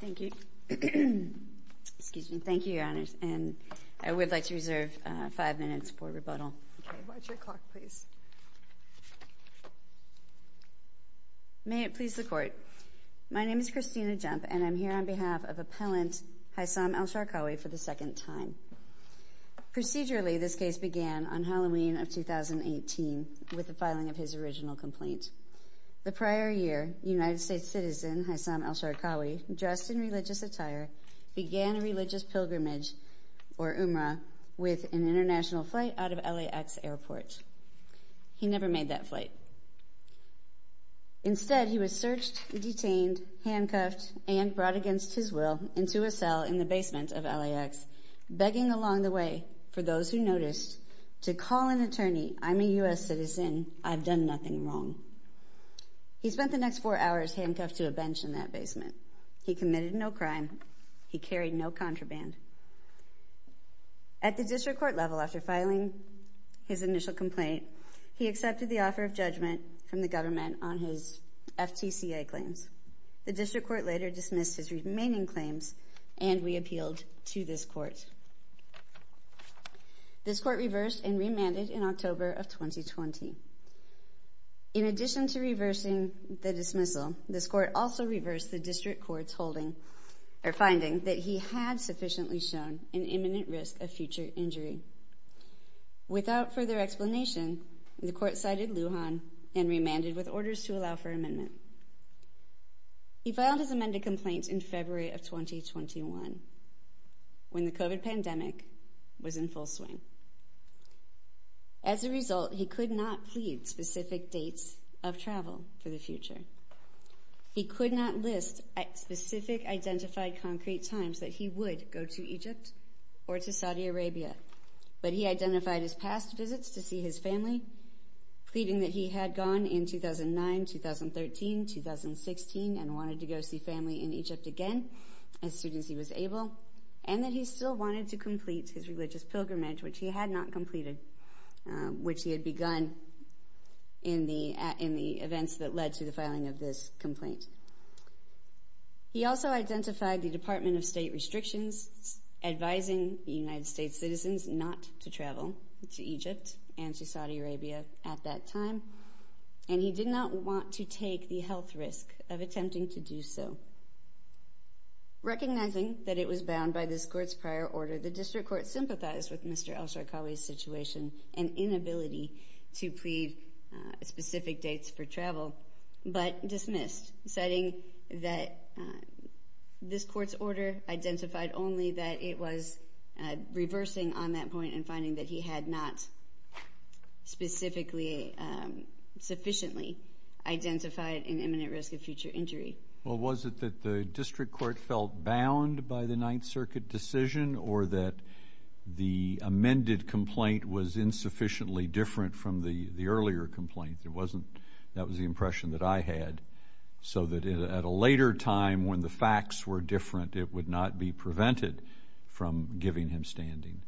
Thank you. Excuse me. Thank you, Your Honors, and I would like to reserve five minutes for rebuttal. May it please the Court. My name is Christina Jump and I'm here on behalf of Appellant Haisam Elsharkawi for the second time. Procedurally, this case began on Halloween of 2018 with the filing of his dressed in religious attire, began a religious pilgrimage, or Umrah, with an international flight out of LAX airport. He never made that flight. Instead, he was searched, detained, handcuffed, and brought against his will into a cell in the basement of LAX, begging along the way for those who noticed to call an attorney. I'm a U.S. citizen. I've done nothing wrong. He spent the next four hours handcuffed to a bench in that basement. He committed no crime. He carried no contraband. At the district court level, after filing his initial complaint, he accepted the offer of judgment from the government on his FTCA claims. The district court later dismissed his remaining claims and we appealed to this court. This court reversed and remanded in October of 2020. In addition to reversing the dismissal, this court also reversed the district court's finding that he had sufficiently shown an imminent risk of future injury. Without further explanation, the court cited Lujan and remanded with orders to allow for amendment. He filed his amended complaint in February of 2021 when the COVID pandemic was in full swing. As a result, he could not plead specific dates of travel for the future. He could not list specific identified concrete times that he would go to Egypt or to Saudi Arabia, but he identified his past visits to see his family, pleading that he had gone in 2009, 2013, 2016 and wanted to go see family in Egypt again as soon as he was able and that he still wanted to complete his religious pilgrimage, which he had not completed, which he had begun in the in the events that led to the filing of this complaint. He also identified the Department of State restrictions, advising the United States citizens not to travel to Egypt and to Saudi Arabia at that time, and he did not want to take the health risk of attempting to do so. Recognizing that it was bound by this court's prior order, the district court sympathized with Mr. Elsharqawi's situation and inability to plead specific dates for travel, but dismissed, citing that this court's order identified only that it was reversing on that point and finding that he had not specifically sufficiently identified an imminent risk of future injury. Well, was it that the district court felt bound by the Ninth Circuit decision or that the amended complaint was insufficiently different from the earlier complaint? It wasn't, that was the impression that I had, so that at a later time when the facts were different, it would not be prevented from giving him standing.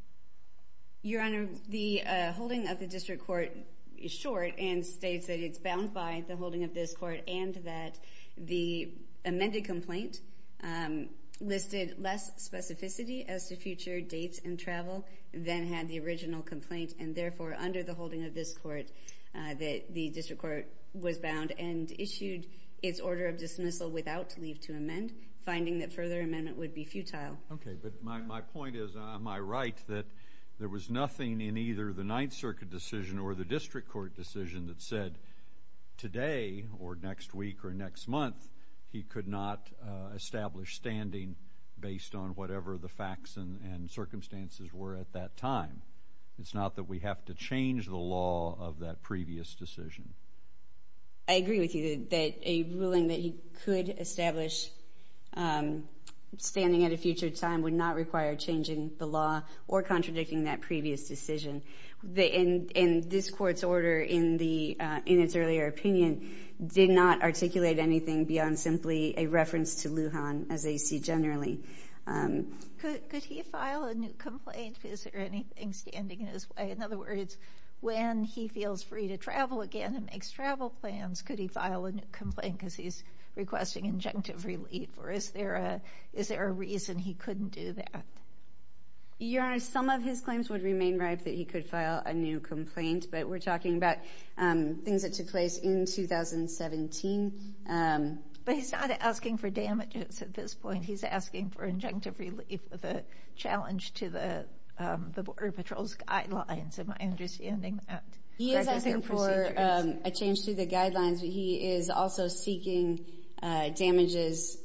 Your Honor, the holding of the district court is short and states that it's bound by the holding of this court and that the amended complaint listed less specificity as to future dates and travel than had the original complaint, and therefore, under the holding of this court, that the district court was bound and issued its order of dismissal without leave to amend, finding that further amendment would be futile. Okay, but my point is, am I right that there was nothing in either the Ninth Circuit decision or the district court decision that said today or next week or whatever the facts and circumstances were at that time? It's not that we have to change the law of that previous decision. I agree with you that a ruling that he could establish standing at a future time would not require changing the law or contradicting that previous decision. And this court's order in its earlier opinion did not articulate anything beyond simply a reference to Lujan as they see generally. Could he file a new complaint? Is there anything standing in his way? In other words, when he feels free to travel again and makes travel plans, could he file a new complaint because he's requesting injunctive relief? Or is there a reason he couldn't do that? Your Honor, some of his claims would remain ripe that he could file a new complaint, but we're talking about things that took place in 2017. But he's not asking for damages at this point. He's asking for injunctive relief with a challenge to the Border Patrol's guidelines, am I understanding that? He is asking for a change to the guidelines, but he is also seeking damages.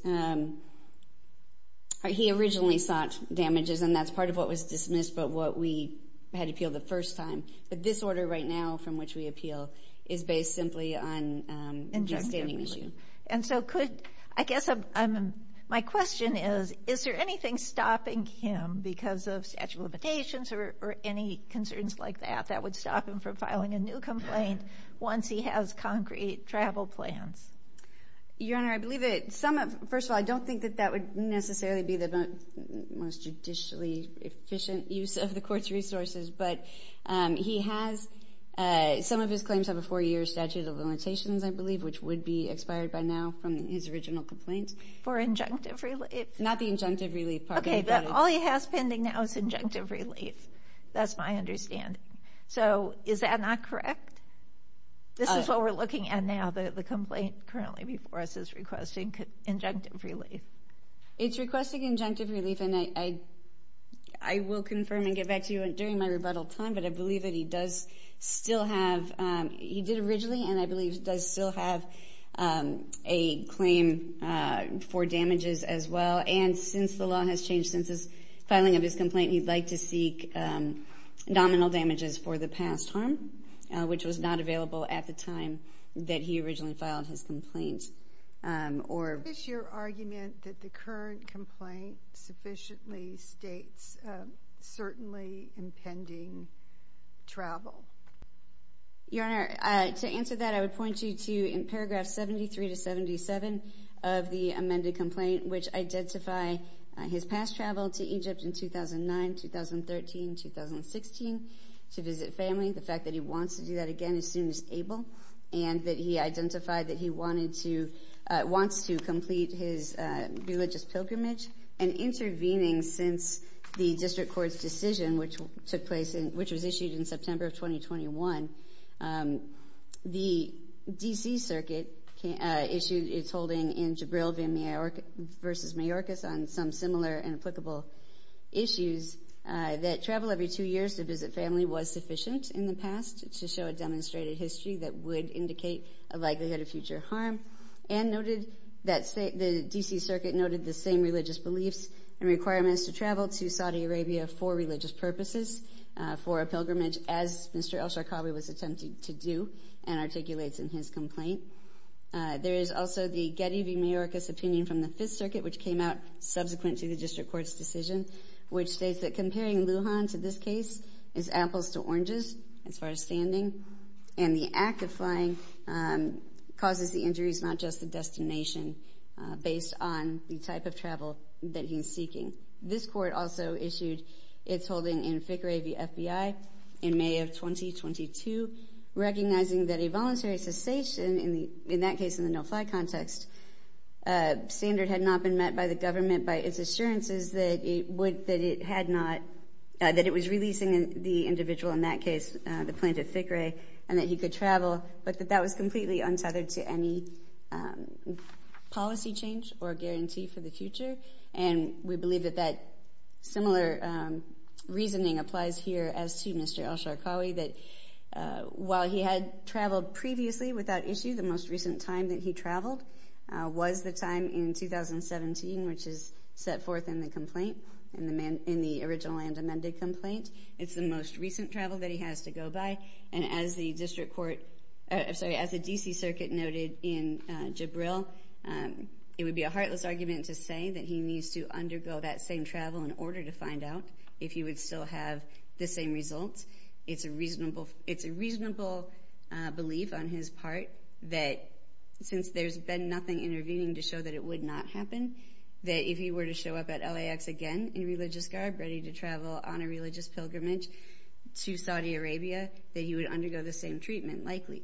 He originally sought damages and that's part of what was dismissed, but what we had appealed the first time. But this order right now from which we appeal is based simply on the standing issue. And so could, I guess my question is, is there anything stopping him because of statute of limitations or any concerns like that that would stop him from filing a new complaint once he has concrete travel plans? Your Honor, I believe that some of, first of all, I don't think that that would necessarily be the most judicially efficient use of the court's resources, but he has some of his claims have a four year statute of limitations, I believe, which would be expired by now from his original complaint. For injunctive relief? Not the injunctive relief part. OK, but all he has pending now is injunctive relief. That's my understanding. So is that not correct? This is what we're looking at now, the complaint currently before us is requesting injunctive relief. It's requesting injunctive relief and I will confirm and get back to you during my rebuttal time, but I believe that he does still have, he did originally and I believe that he does still have a claim for damages as well. And since the law has changed since his filing of his complaint, he'd like to seek nominal damages for the past harm, which was not available at the time that he originally filed his complaint. Or is your argument that the current complaint sufficiently states certainly impending travel? Your Honor, to answer that, I would point you to in paragraph 73 to 77 of the amended complaint, which identify his past travel to Egypt in 2009, 2013, 2016 to visit family. The fact that he wants to do that again as soon as able and that he identified that he wanted to, wants to complete his religious pilgrimage and intervening since the district court's decision, which took place in, which was issued in 2021, the DC circuit issued its holding in Jabril versus Mayorkas on some similar and applicable issues that travel every two years to visit family was sufficient in the past to show a demonstrated history that would indicate a likelihood of future harm and noted that the DC circuit noted the same religious beliefs and requirements to travel to Saudi Arabia for religious purposes for a pilgrimage as Mr. Elsharkabi was attempting to do and articulates in his complaint. There is also the Getty v. Mayorkas opinion from the fifth circuit, which came out subsequent to the district court's decision, which states that comparing Lujan to this case is apples to oranges as far as standing and the act of flying causes the injuries, not just the This court also issued its holding in Fikrey v. FBI in May of 2022, recognizing that a voluntary cessation in the, in that case, in the no-fly context standard had not been met by the government by its assurances that it would, that it had not, that it was releasing the individual in that case, the plaintiff Fikrey, and that he could travel, but that that was completely untethered to any policy change or guarantee for the future. And we believe that that similar reasoning applies here as to Mr. Elsharkabi, that while he had traveled previously without issue, the most recent time that he traveled was the time in 2017, which is set forth in the complaint, in the man, in the original and amended complaint. It's the most recent travel that he has to go by. And as the district court, I'm sorry, as the DC circuit noted in Jibril it would be a heartless argument to say that he needs to undergo that same travel in order to find out if he would still have the same results. It's a reasonable, it's a reasonable belief on his part that since there's been nothing intervening to show that it would not happen, that if he were to show up at LAX again in religious garb, ready to travel on a religious pilgrimage to Saudi Arabia, that he would undergo the same treatment, likely.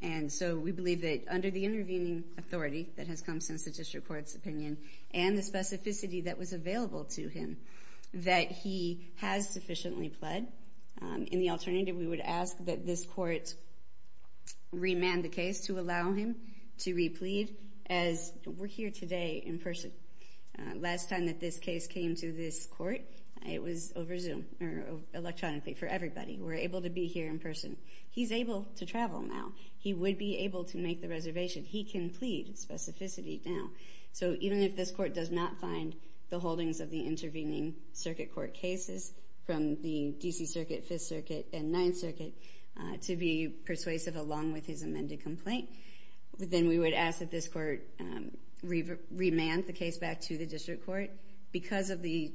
And so we believe that under the intervening authority that has come since the district court's opinion, and the specificity that was available to him, that he has sufficiently pled. In the alternative, we would ask that this court re-mand the case to allow him to re-plead as we're here today in person. Last time that this case came to this court, it was over Zoom or electronically for everybody. We're able to be here in person. He's able to travel now. He would be able to make the reservation. He can plead specificity now. So even if this court does not find the holdings of the intervening circuit court cases from the DC Circuit, Fifth Circuit, and Ninth Circuit to be persuasive along with his amended complaint, then we would ask that this court re-mand the case back to the district court. Because of the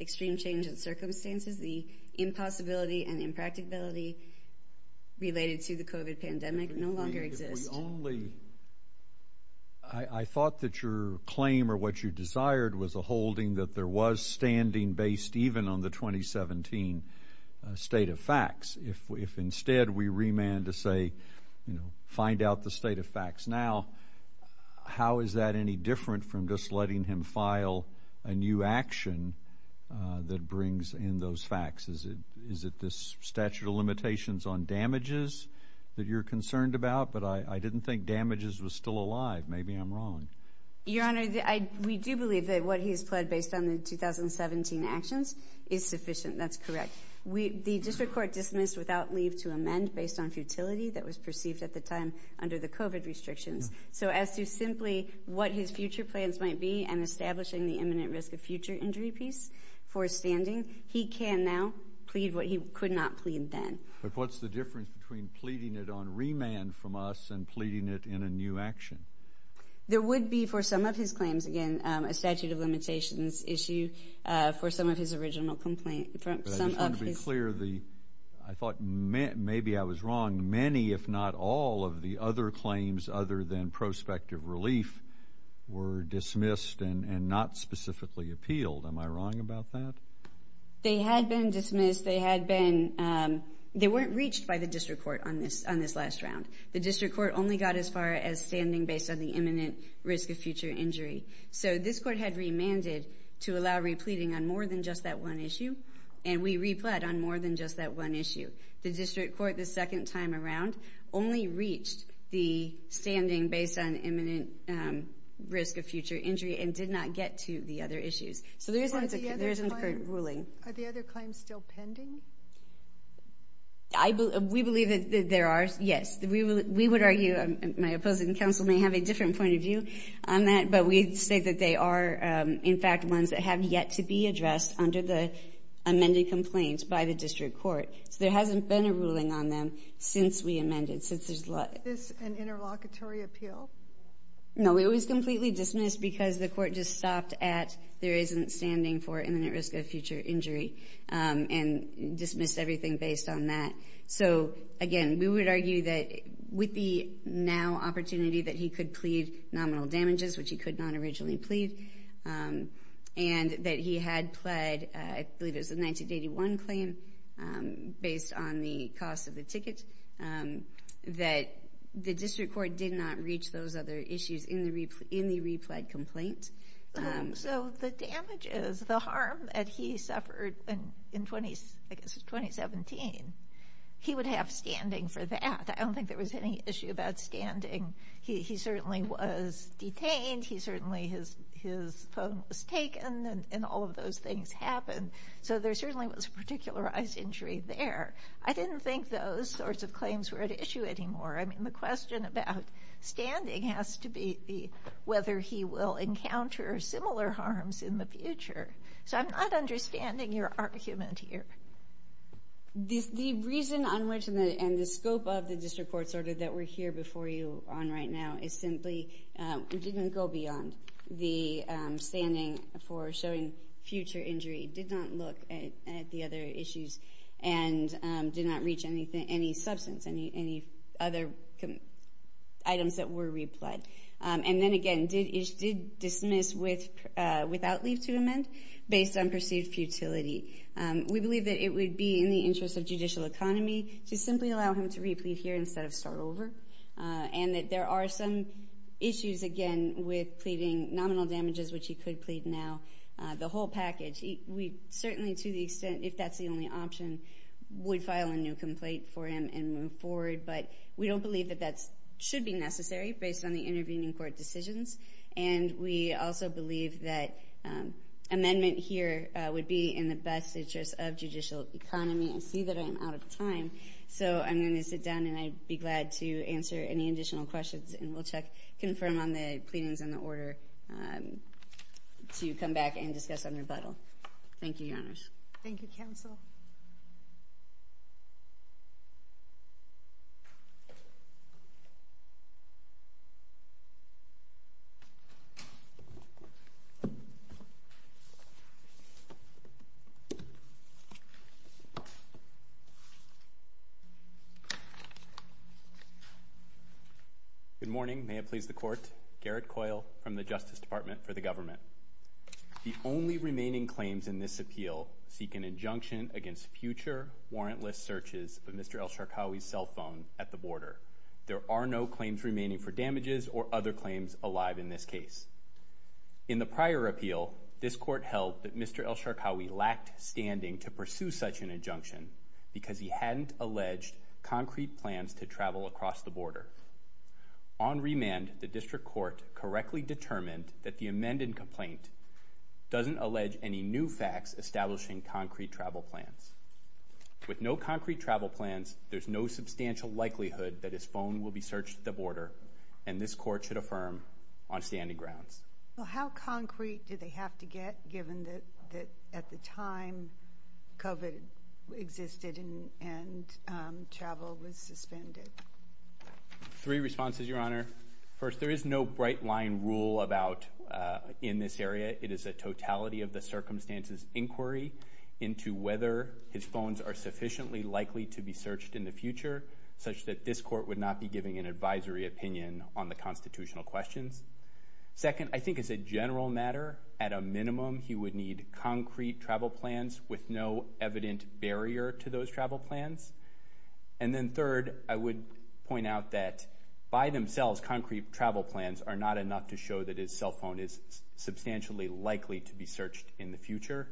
extreme change in circumstances, the impossibility and impracticability related to the COVID pandemic no longer exist. We only, I thought that your claim or what you desired was a holding that there was standing based even on the 2017 state of facts. If instead we re-mand to say, you know, find out the state of facts now, how is that any different from just letting him file a new action that brings in those facts? Is it this statute of limitations on damages that you're concerned about? But I didn't think damages was still alive. Maybe I'm wrong. Your Honor, we do believe that what he's pled based on the 2017 actions is sufficient, that's correct. The district court dismissed without leave to amend based on futility that was perceived at the time under the COVID restrictions. So as to simply what his future plans might be and establishing the imminent risk of future injury piece for standing, he can now plead what he could not plead then. But what's the difference between pleading it on re-mand from us and pleading it in a new action? There would be for some of his claims, again, a statute of limitations issue for some of his original complaint. I just want to be clear. I thought maybe I was wrong. Many, if not all of the other claims other than prospective relief were dismissed and not specifically appealed. Am I wrong about that? They had been dismissed. They weren't reached by the district court on this last round. The district court only got as far as standing based on the imminent risk of future injury. So this court had re-manded to allow re-pleading on more than just that one issue. And we re-pled on more than just that one issue. The district court the second time around only reached the standing based on imminent risk of future injury and did not get to the other issues. So there isn't a court ruling. Are the other claims still pending? We believe that there are, yes. We would argue, my opposing counsel may have a different point of view on that, but we'd say that they are, in fact, ones that have yet to be addressed under the amended complaints by the district court. So there hasn't been a ruling on them since we amended, since there's a lot. Is this an interlocutory appeal? No, it was completely dismissed because the court just stopped at there isn't standing for imminent risk of future injury and dismissed everything based on that. So again, we would argue that with the now opportunity that he could plead nominal damages, which he could not originally plead, and that he had pled, I believe it was a 1981 claim based on the cost of the ticket, that the district court did not reach those other issues in the re-pled complaint. So the damages, the harm that he suffered in 2017, he would have standing for that. I don't think there was any issue about standing. He certainly was detained. He certainly, his phone was taken, and all of those things happened. So there certainly was a particularized injury there. I didn't think those sorts of claims were at issue anymore. I mean, the question about standing has to be whether he will encounter similar harms in the future. So I'm not understanding your argument here. The reason on which and the scope of the district court's order that we're here before you on right now is simply we didn't go beyond the standing for showing future injury, did not look at the other issues, and did not reach any substance, any other items that were re-pled. And then again, did dismiss without leave to amend based on perceived futility. We believe that it would be in the interest of judicial economy to simply allow him to re-plead here instead of start over, and that there are some issues, again, with pleading nominal damages, which he could plead now, the whole package. We certainly, to the extent, if that's the only option, would file a new complaint for him and move forward. But we don't believe that that should be necessary based on the intervening court decisions. And we also believe that amendment here would be in the best interest of judicial economy. I see that I am out of time. So I'm going to sit down, and I'd be glad to answer any additional questions. And we'll check, confirm on the pleadings and the order to come back and discuss on rebuttal. Thank you, Your Honors. Thank you, counsel. Good morning. May it please the court. Garrett Coyle from the Justice Department for the government. The only remaining claims in this appeal seek an injunction against future warrantless searches of Mr. Elsharkawi's cell phone at the border. There are no claims remaining for damages or other claims alive in this case. In the prior appeal, this court held that Mr. Elsharkawi lacked standing to pursue such an injunction because he hadn't alleged concrete plans to travel across the border. On remand, the district court correctly determined that the amended complaint doesn't allege any new facts establishing concrete travel plans. With no concrete travel plans, there's no substantial likelihood that his phone will be searched at the border. And this court should affirm on standing grounds. Well, how concrete do they have to get, given that at the time COVID existed and travel was suspended? Three responses, Your Honor. First, there is no bright line rule about in this area. It is a totality of the circumstances inquiry into whether his phones are sufficiently likely to be searched in the future, such that this court would not be giving an advisory opinion on the constitutional questions. Second, I think as a general matter, at a minimum, he would need concrete travel plans with no evident barrier to those travel plans. And then third, I would point out that by themselves, concrete travel plans are not enough to show that his cell phone is substantially likely to be searched in the future.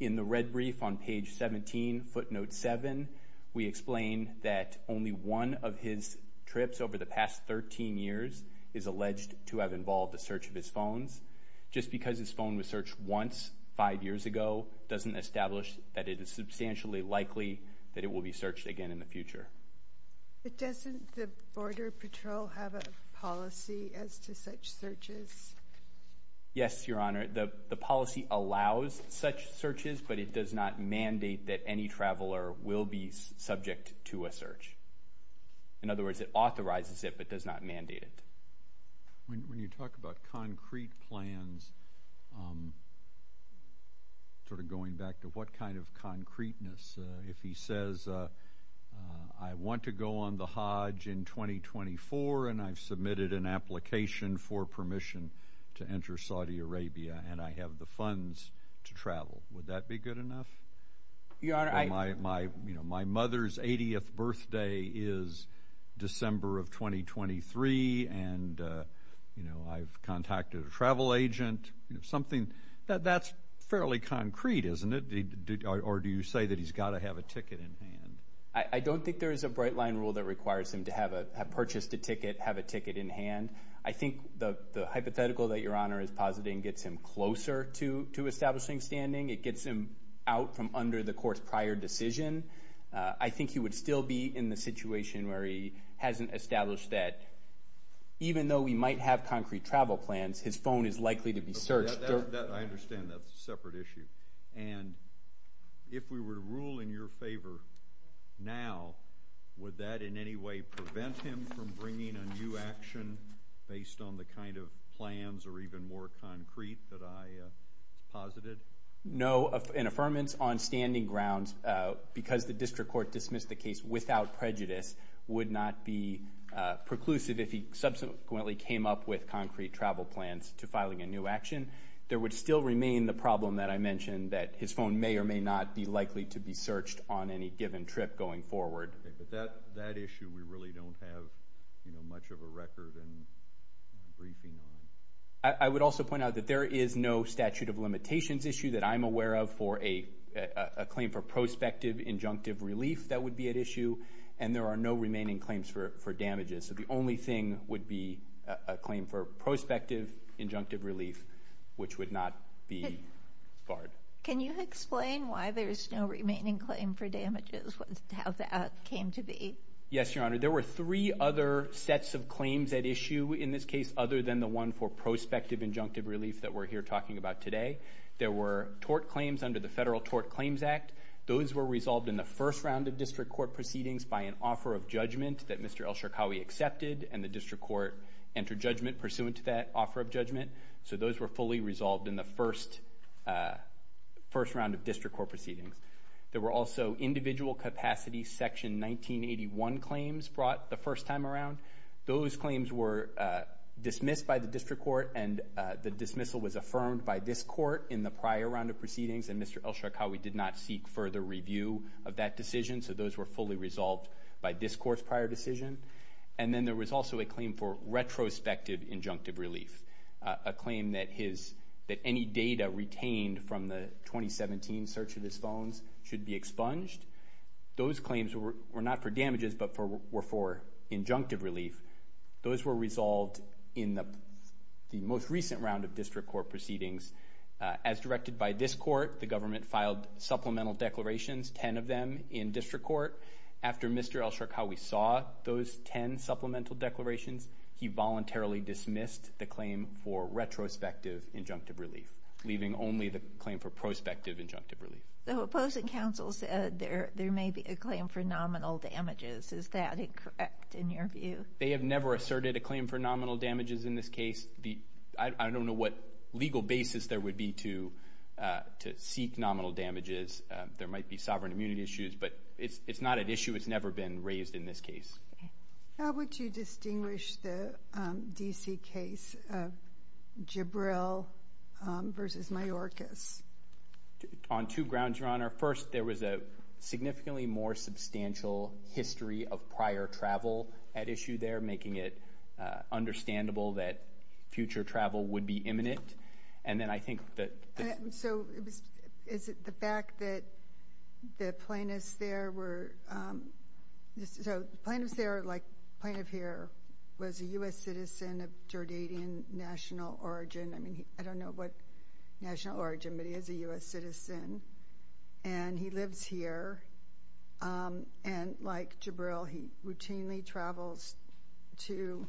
In the red brief on page 17, footnote 7, we explain that only one of his trips over the past 13 years is alleged to have involved the search of his phones. Just because his phone was searched once, five years ago, doesn't establish that it is substantially likely that it will be searched again in the future. But doesn't the Border Patrol have a policy as to such searches? Yes, Your Honor. The policy allows such searches, but it does not mandate that any traveler will be subject to a search. In other words, it authorizes it, but does not mandate it. When you talk about concrete plans, sort of going back to what kind of concreteness, if he says, I want to go on the Hajj in 2024, and I've submitted an application for permission to enter Saudi Arabia, and I have the funds to travel, would that be good enough? Your Honor, I... My mother's 80th birthday is December of 2023, and I've contacted a travel agent, something that's fairly concrete, isn't it? Or do you say that he's got to have a ticket in hand? I don't think there is a bright line rule that requires him to have purchased a ticket, have a ticket in hand. I think the hypothetical that Your Honor is positing gets him closer to establishing standing. It gets him out from under the court's prior decision. I think he would still be in the situation where he hasn't established that, even though we might have concrete travel plans, his phone is likely to be searched. I understand that's a separate issue. And if we were to rule in your favor now, would that in any way prevent him from bringing a new action based on the kind of plans or even more concrete that I posited? No, an affirmance on standing grounds, because the district court dismissed the case without prejudice, would not be preclusive if he subsequently came up with concrete travel plans to filing a new action. There would still remain the problem that I mentioned, that his phone may or may not be likely to be searched on any given trip going forward. Okay, but that issue, we really don't have, you know, much of a record and briefing on. I would also point out that there is no statute of limitations issue that I'm aware of for a claim for prospective injunctive relief that would be at issue, and there are no remaining claims for damages. So the only thing would be a claim for prospective injunctive relief, which would not be barred. Can you explain why there's no remaining claim for damages, how that came to be? Yes, Your Honor. There were three other sets of claims at issue in this case, other than the one for prospective injunctive relief that we're here talking about today. There were tort claims under the Federal Tort Claims Act. Those were resolved in the first round of district court proceedings by an offer of judgment that Mr. Elsharkawi accepted, and the district court entered judgment pursuant to that offer of judgment. So those were fully resolved in the first round of district court proceedings. There were also individual capacity Section 1981 claims brought the first time around. Those claims were dismissed by the district court, and the dismissal was affirmed by this court in the prior round of proceedings, and Mr. Elsharkawi did not seek further review of that decision, so those were fully resolved by this court's prior decision. And then there was also a claim for retrospective injunctive relief, a claim that any data retained from the 2017 search of his phones should be expunged. Those claims were not for damages, but were for injunctive relief. Those were resolved in the most recent round of district court proceedings. As directed by this court, the government filed supplemental declarations, ten of them in district court. After Mr. Elsharkawi saw those ten supplemental declarations, he voluntarily dismissed the claim for retrospective injunctive relief, leaving only the claim for prospective injunctive relief. The opposing counsel said there may be a claim for nominal damages. Is that incorrect in your view? They have never asserted a claim for nominal damages in this case. I don't know what legal basis there would be to seek nominal damages. There might be sovereign immunity issues, but it's not an issue. It's never been raised in this case. How would you distinguish the D.C. case of Jibril versus Mayorkas? On two grounds, Your Honor. First, there was a significantly more substantial history of prior travel at issue there, making it understandable that future travel would be imminent. And then I think that... So, is it the fact that the plaintiffs there were... So, the plaintiffs there, like the plaintiff here, was a U.S. citizen of Jordanian national origin. I mean, I don't know what national origin, but he is a U.S. citizen. And he lives here. And like Jibril, he routinely travels to...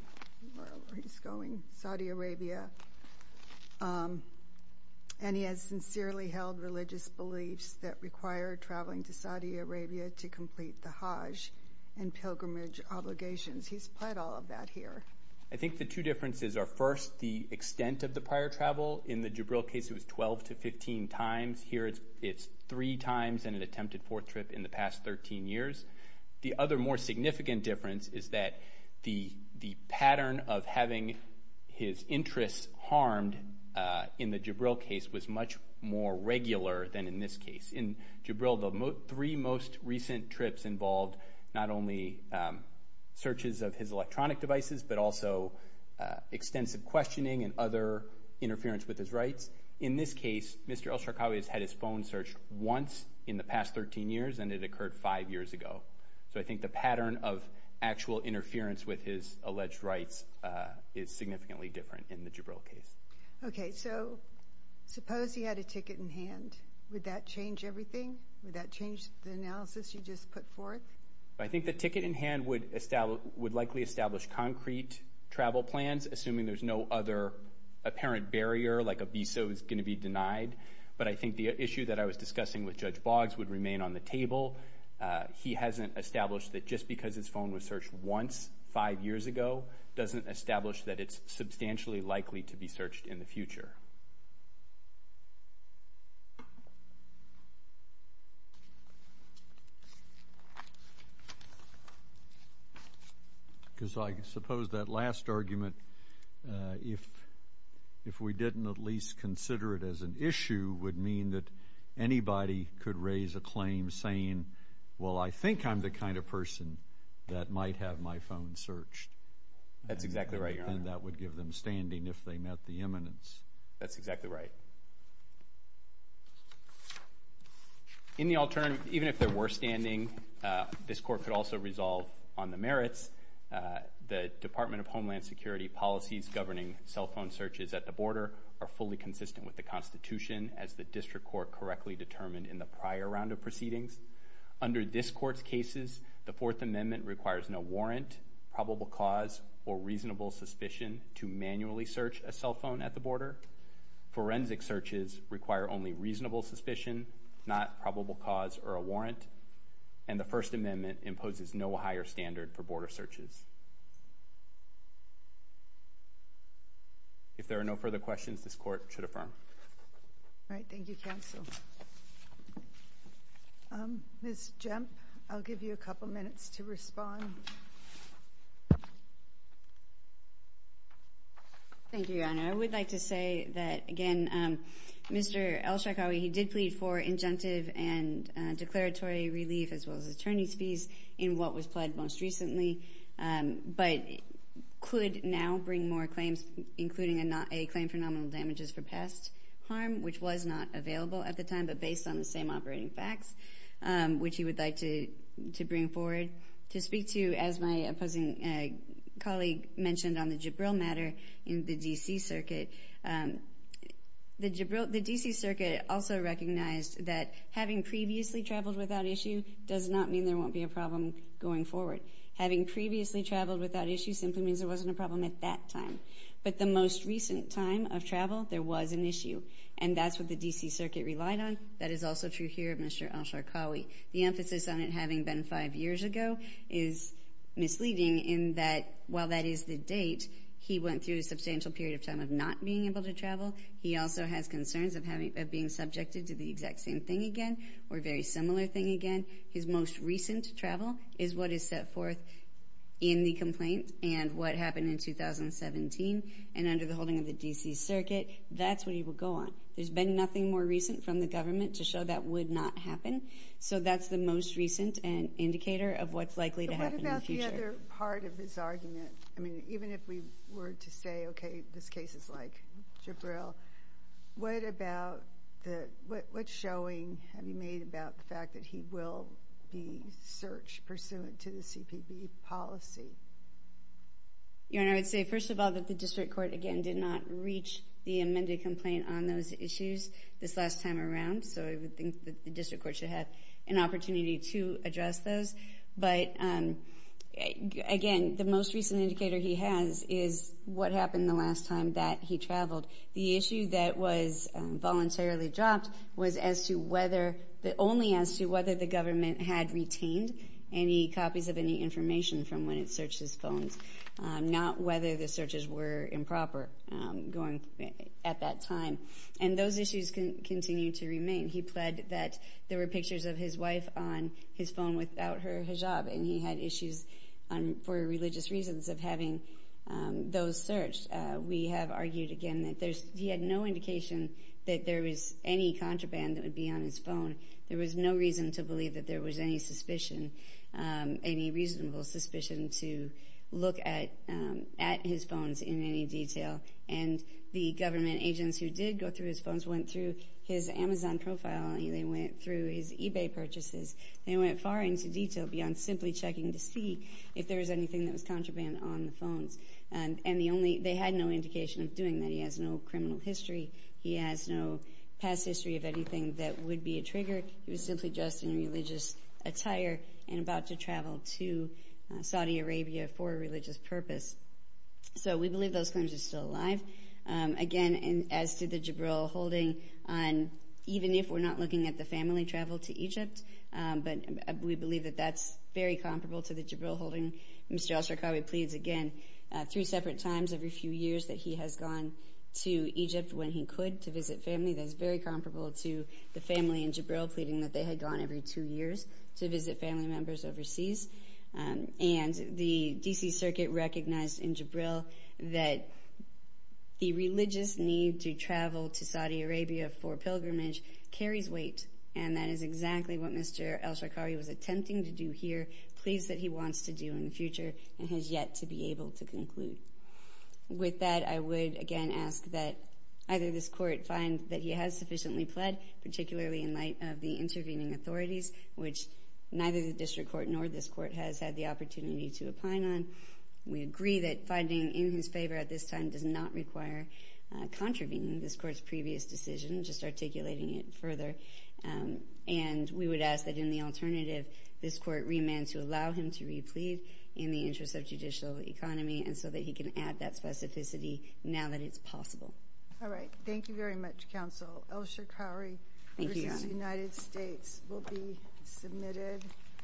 Where is he going? Saudi Arabia. And he has sincerely held religious beliefs that require traveling to Saudi Arabia to complete the Hajj and pilgrimage obligations. He's pled all of that here. I think the two differences are, first, the extent of the prior travel. In the Jibril case, it was 12 to 15 times. Here, it's three times and an attempted fourth trip in the past 13 years. The other more significant difference is that the pattern of having his interests harmed in the Jibril case was much more regular than in this case. In Jibril, the three most recent trips involved not only searches of his electronic devices, but also extensive questioning and other interference with his rights. In this case, Mr. Elsharkawi has had his phone searched once in the past 13 years, and it occurred five years ago. So I think the pattern of actual interference with his alleged rights is significantly different in the Jibril case. Okay, so suppose he had a ticket in hand. Would that change everything? Would that change the analysis you just put forth? I think the ticket in hand would likely establish concrete travel plans, assuming there's no other apparent barrier, like a visa was going to be denied. But I think the issue that I was discussing with Judge Boggs would remain on the table. He hasn't established that just because his phone was searched once five years ago doesn't establish that it's substantially likely to be searched in the future. Because I suppose that last argument, if we didn't at least consider it as an issue, would mean that anybody could raise a claim saying, well, I think I'm the kind of person that might have my phone searched. That's exactly right, Your Honor. And that would give them standing if they met the imminence. That's exactly right. In the alternative, even if there were standing, this court could also resolve on the merits. The Department of Homeland Security policies governing cell phone searches at the border are fully consistent with the Constitution as the district court correctly determined in the prior round of proceedings. Under this court's cases, the Fourth Amendment requires no warrant, probable cause, or reasonable suspicion to manually search a cell phone at the border. Forensic searches require only reasonable suspicion, not probable cause or a warrant. And the First Amendment imposes no higher standard for border searches. If there are no further questions, this court should affirm. All right. Thank you, counsel. Ms. Jemp, I'll give you a couple minutes to respond. Thank you, Your Honor. I would like to say that, again, Mr. Elshakawi, he did plead for injunctive and declaratory relief as well as attorney's fees in what was pled most recently, but could now bring more claims, including a claim for nominal damages for past harm, which was not available at the time but based on the same operating facts, which he would like to bring forward to speak to, as my opposing colleague mentioned on the Jibril matter in the D.C. Circuit. The D.C. Circuit also recognized that having previously traveled without issue does not mean there won't be a problem going forward. Having previously traveled without issue simply means there wasn't a problem at that time. But the most recent time of travel, there was an issue. And that's what the D.C. Circuit relied on. That is also true here, Mr. Elshakawi. The emphasis on it having been five years ago is misleading in that, while that is the date, he went through a substantial period of time of not being able to travel. He also has concerns of being subjected to the exact same thing again or a very similar thing again. His most recent travel is what is set forth in the complaint and what happened in 2017 and under the holding of the D.C. Circuit. That's what he would go on. There's been nothing more recent from the government to show that would not happen. So, that's the most recent indicator of what's likely to happen in the future. But what about the other part of his argument? I mean, even if we were to say, okay, this case is like Jibril, what about the – what showing have you made about the fact that he will be searched pursuant to the CPB policy? Your Honor, I would say, first of all, that the District Court, again, did not reach the amended complaint on those issues this last time around, so I would think that the District Court should have an opportunity to address those. But again, the most recent indicator he has is what happened the last time that he traveled. The issue that was voluntarily dropped was as to whether – only as to whether the government had retained any copies of any information from when it searched his phones, not whether the searches were improper going – at that time. And those issues continue to remain. He pled that there were pictures of his wife on his phone without her hijab, and he had issues for religious reasons of having those searched. We have argued, again, that there's – he had no indication that there was any contraband that would be on his phone. There was no reason to believe that there was any suspicion, any reasonable suspicion to look at his phones in any detail. And the government agents who did go through his phones went through his Amazon profile, and they went through his eBay purchases, and they went far into detail beyond simply checking to see if there was anything that was contraband on the phones. And the only – they had no indication of doing that. He has no criminal history. He has no past history of anything that would be a trigger. He was simply dressed in religious attire and about to travel to Saudi Arabia for a religious purpose. So we believe those claims are still alive. Again, and as to the Jibril holding on – even if we're not looking at the family travel to Egypt, but we believe that that's very comparable to the Jibril holding. Mr. al-Sarkawi pleads, again, three separate times every few years that he has gone to Egypt when he could to visit family. That is very comparable to the family in Jibril pleading that they had gone every two years to visit family members overseas. And the D.C. Circuit recognized in Jibril that the religious need to travel to Saudi Arabia for pilgrimage carries weight, and that is exactly what Mr. al-Sarkawi was attempting to do here, pleads that he wants to do in the future, and has yet to be able to conclude. With that, I would again ask that either this court find that he has sufficiently pled, particularly in light of the intervening authorities, which neither the district court nor this court has had the opportunity to opine on. We agree that finding in his favor at this time does not require contravening this court's previous decision, just articulating it further. And we would ask that in the alternative, this court remand to allow him to re-plead in the interest of judicial economy, and so that he can add that specificity now that it's possible. All right. Thank you very much, Counsel. Al-Sarkawi v. United States will be submitted.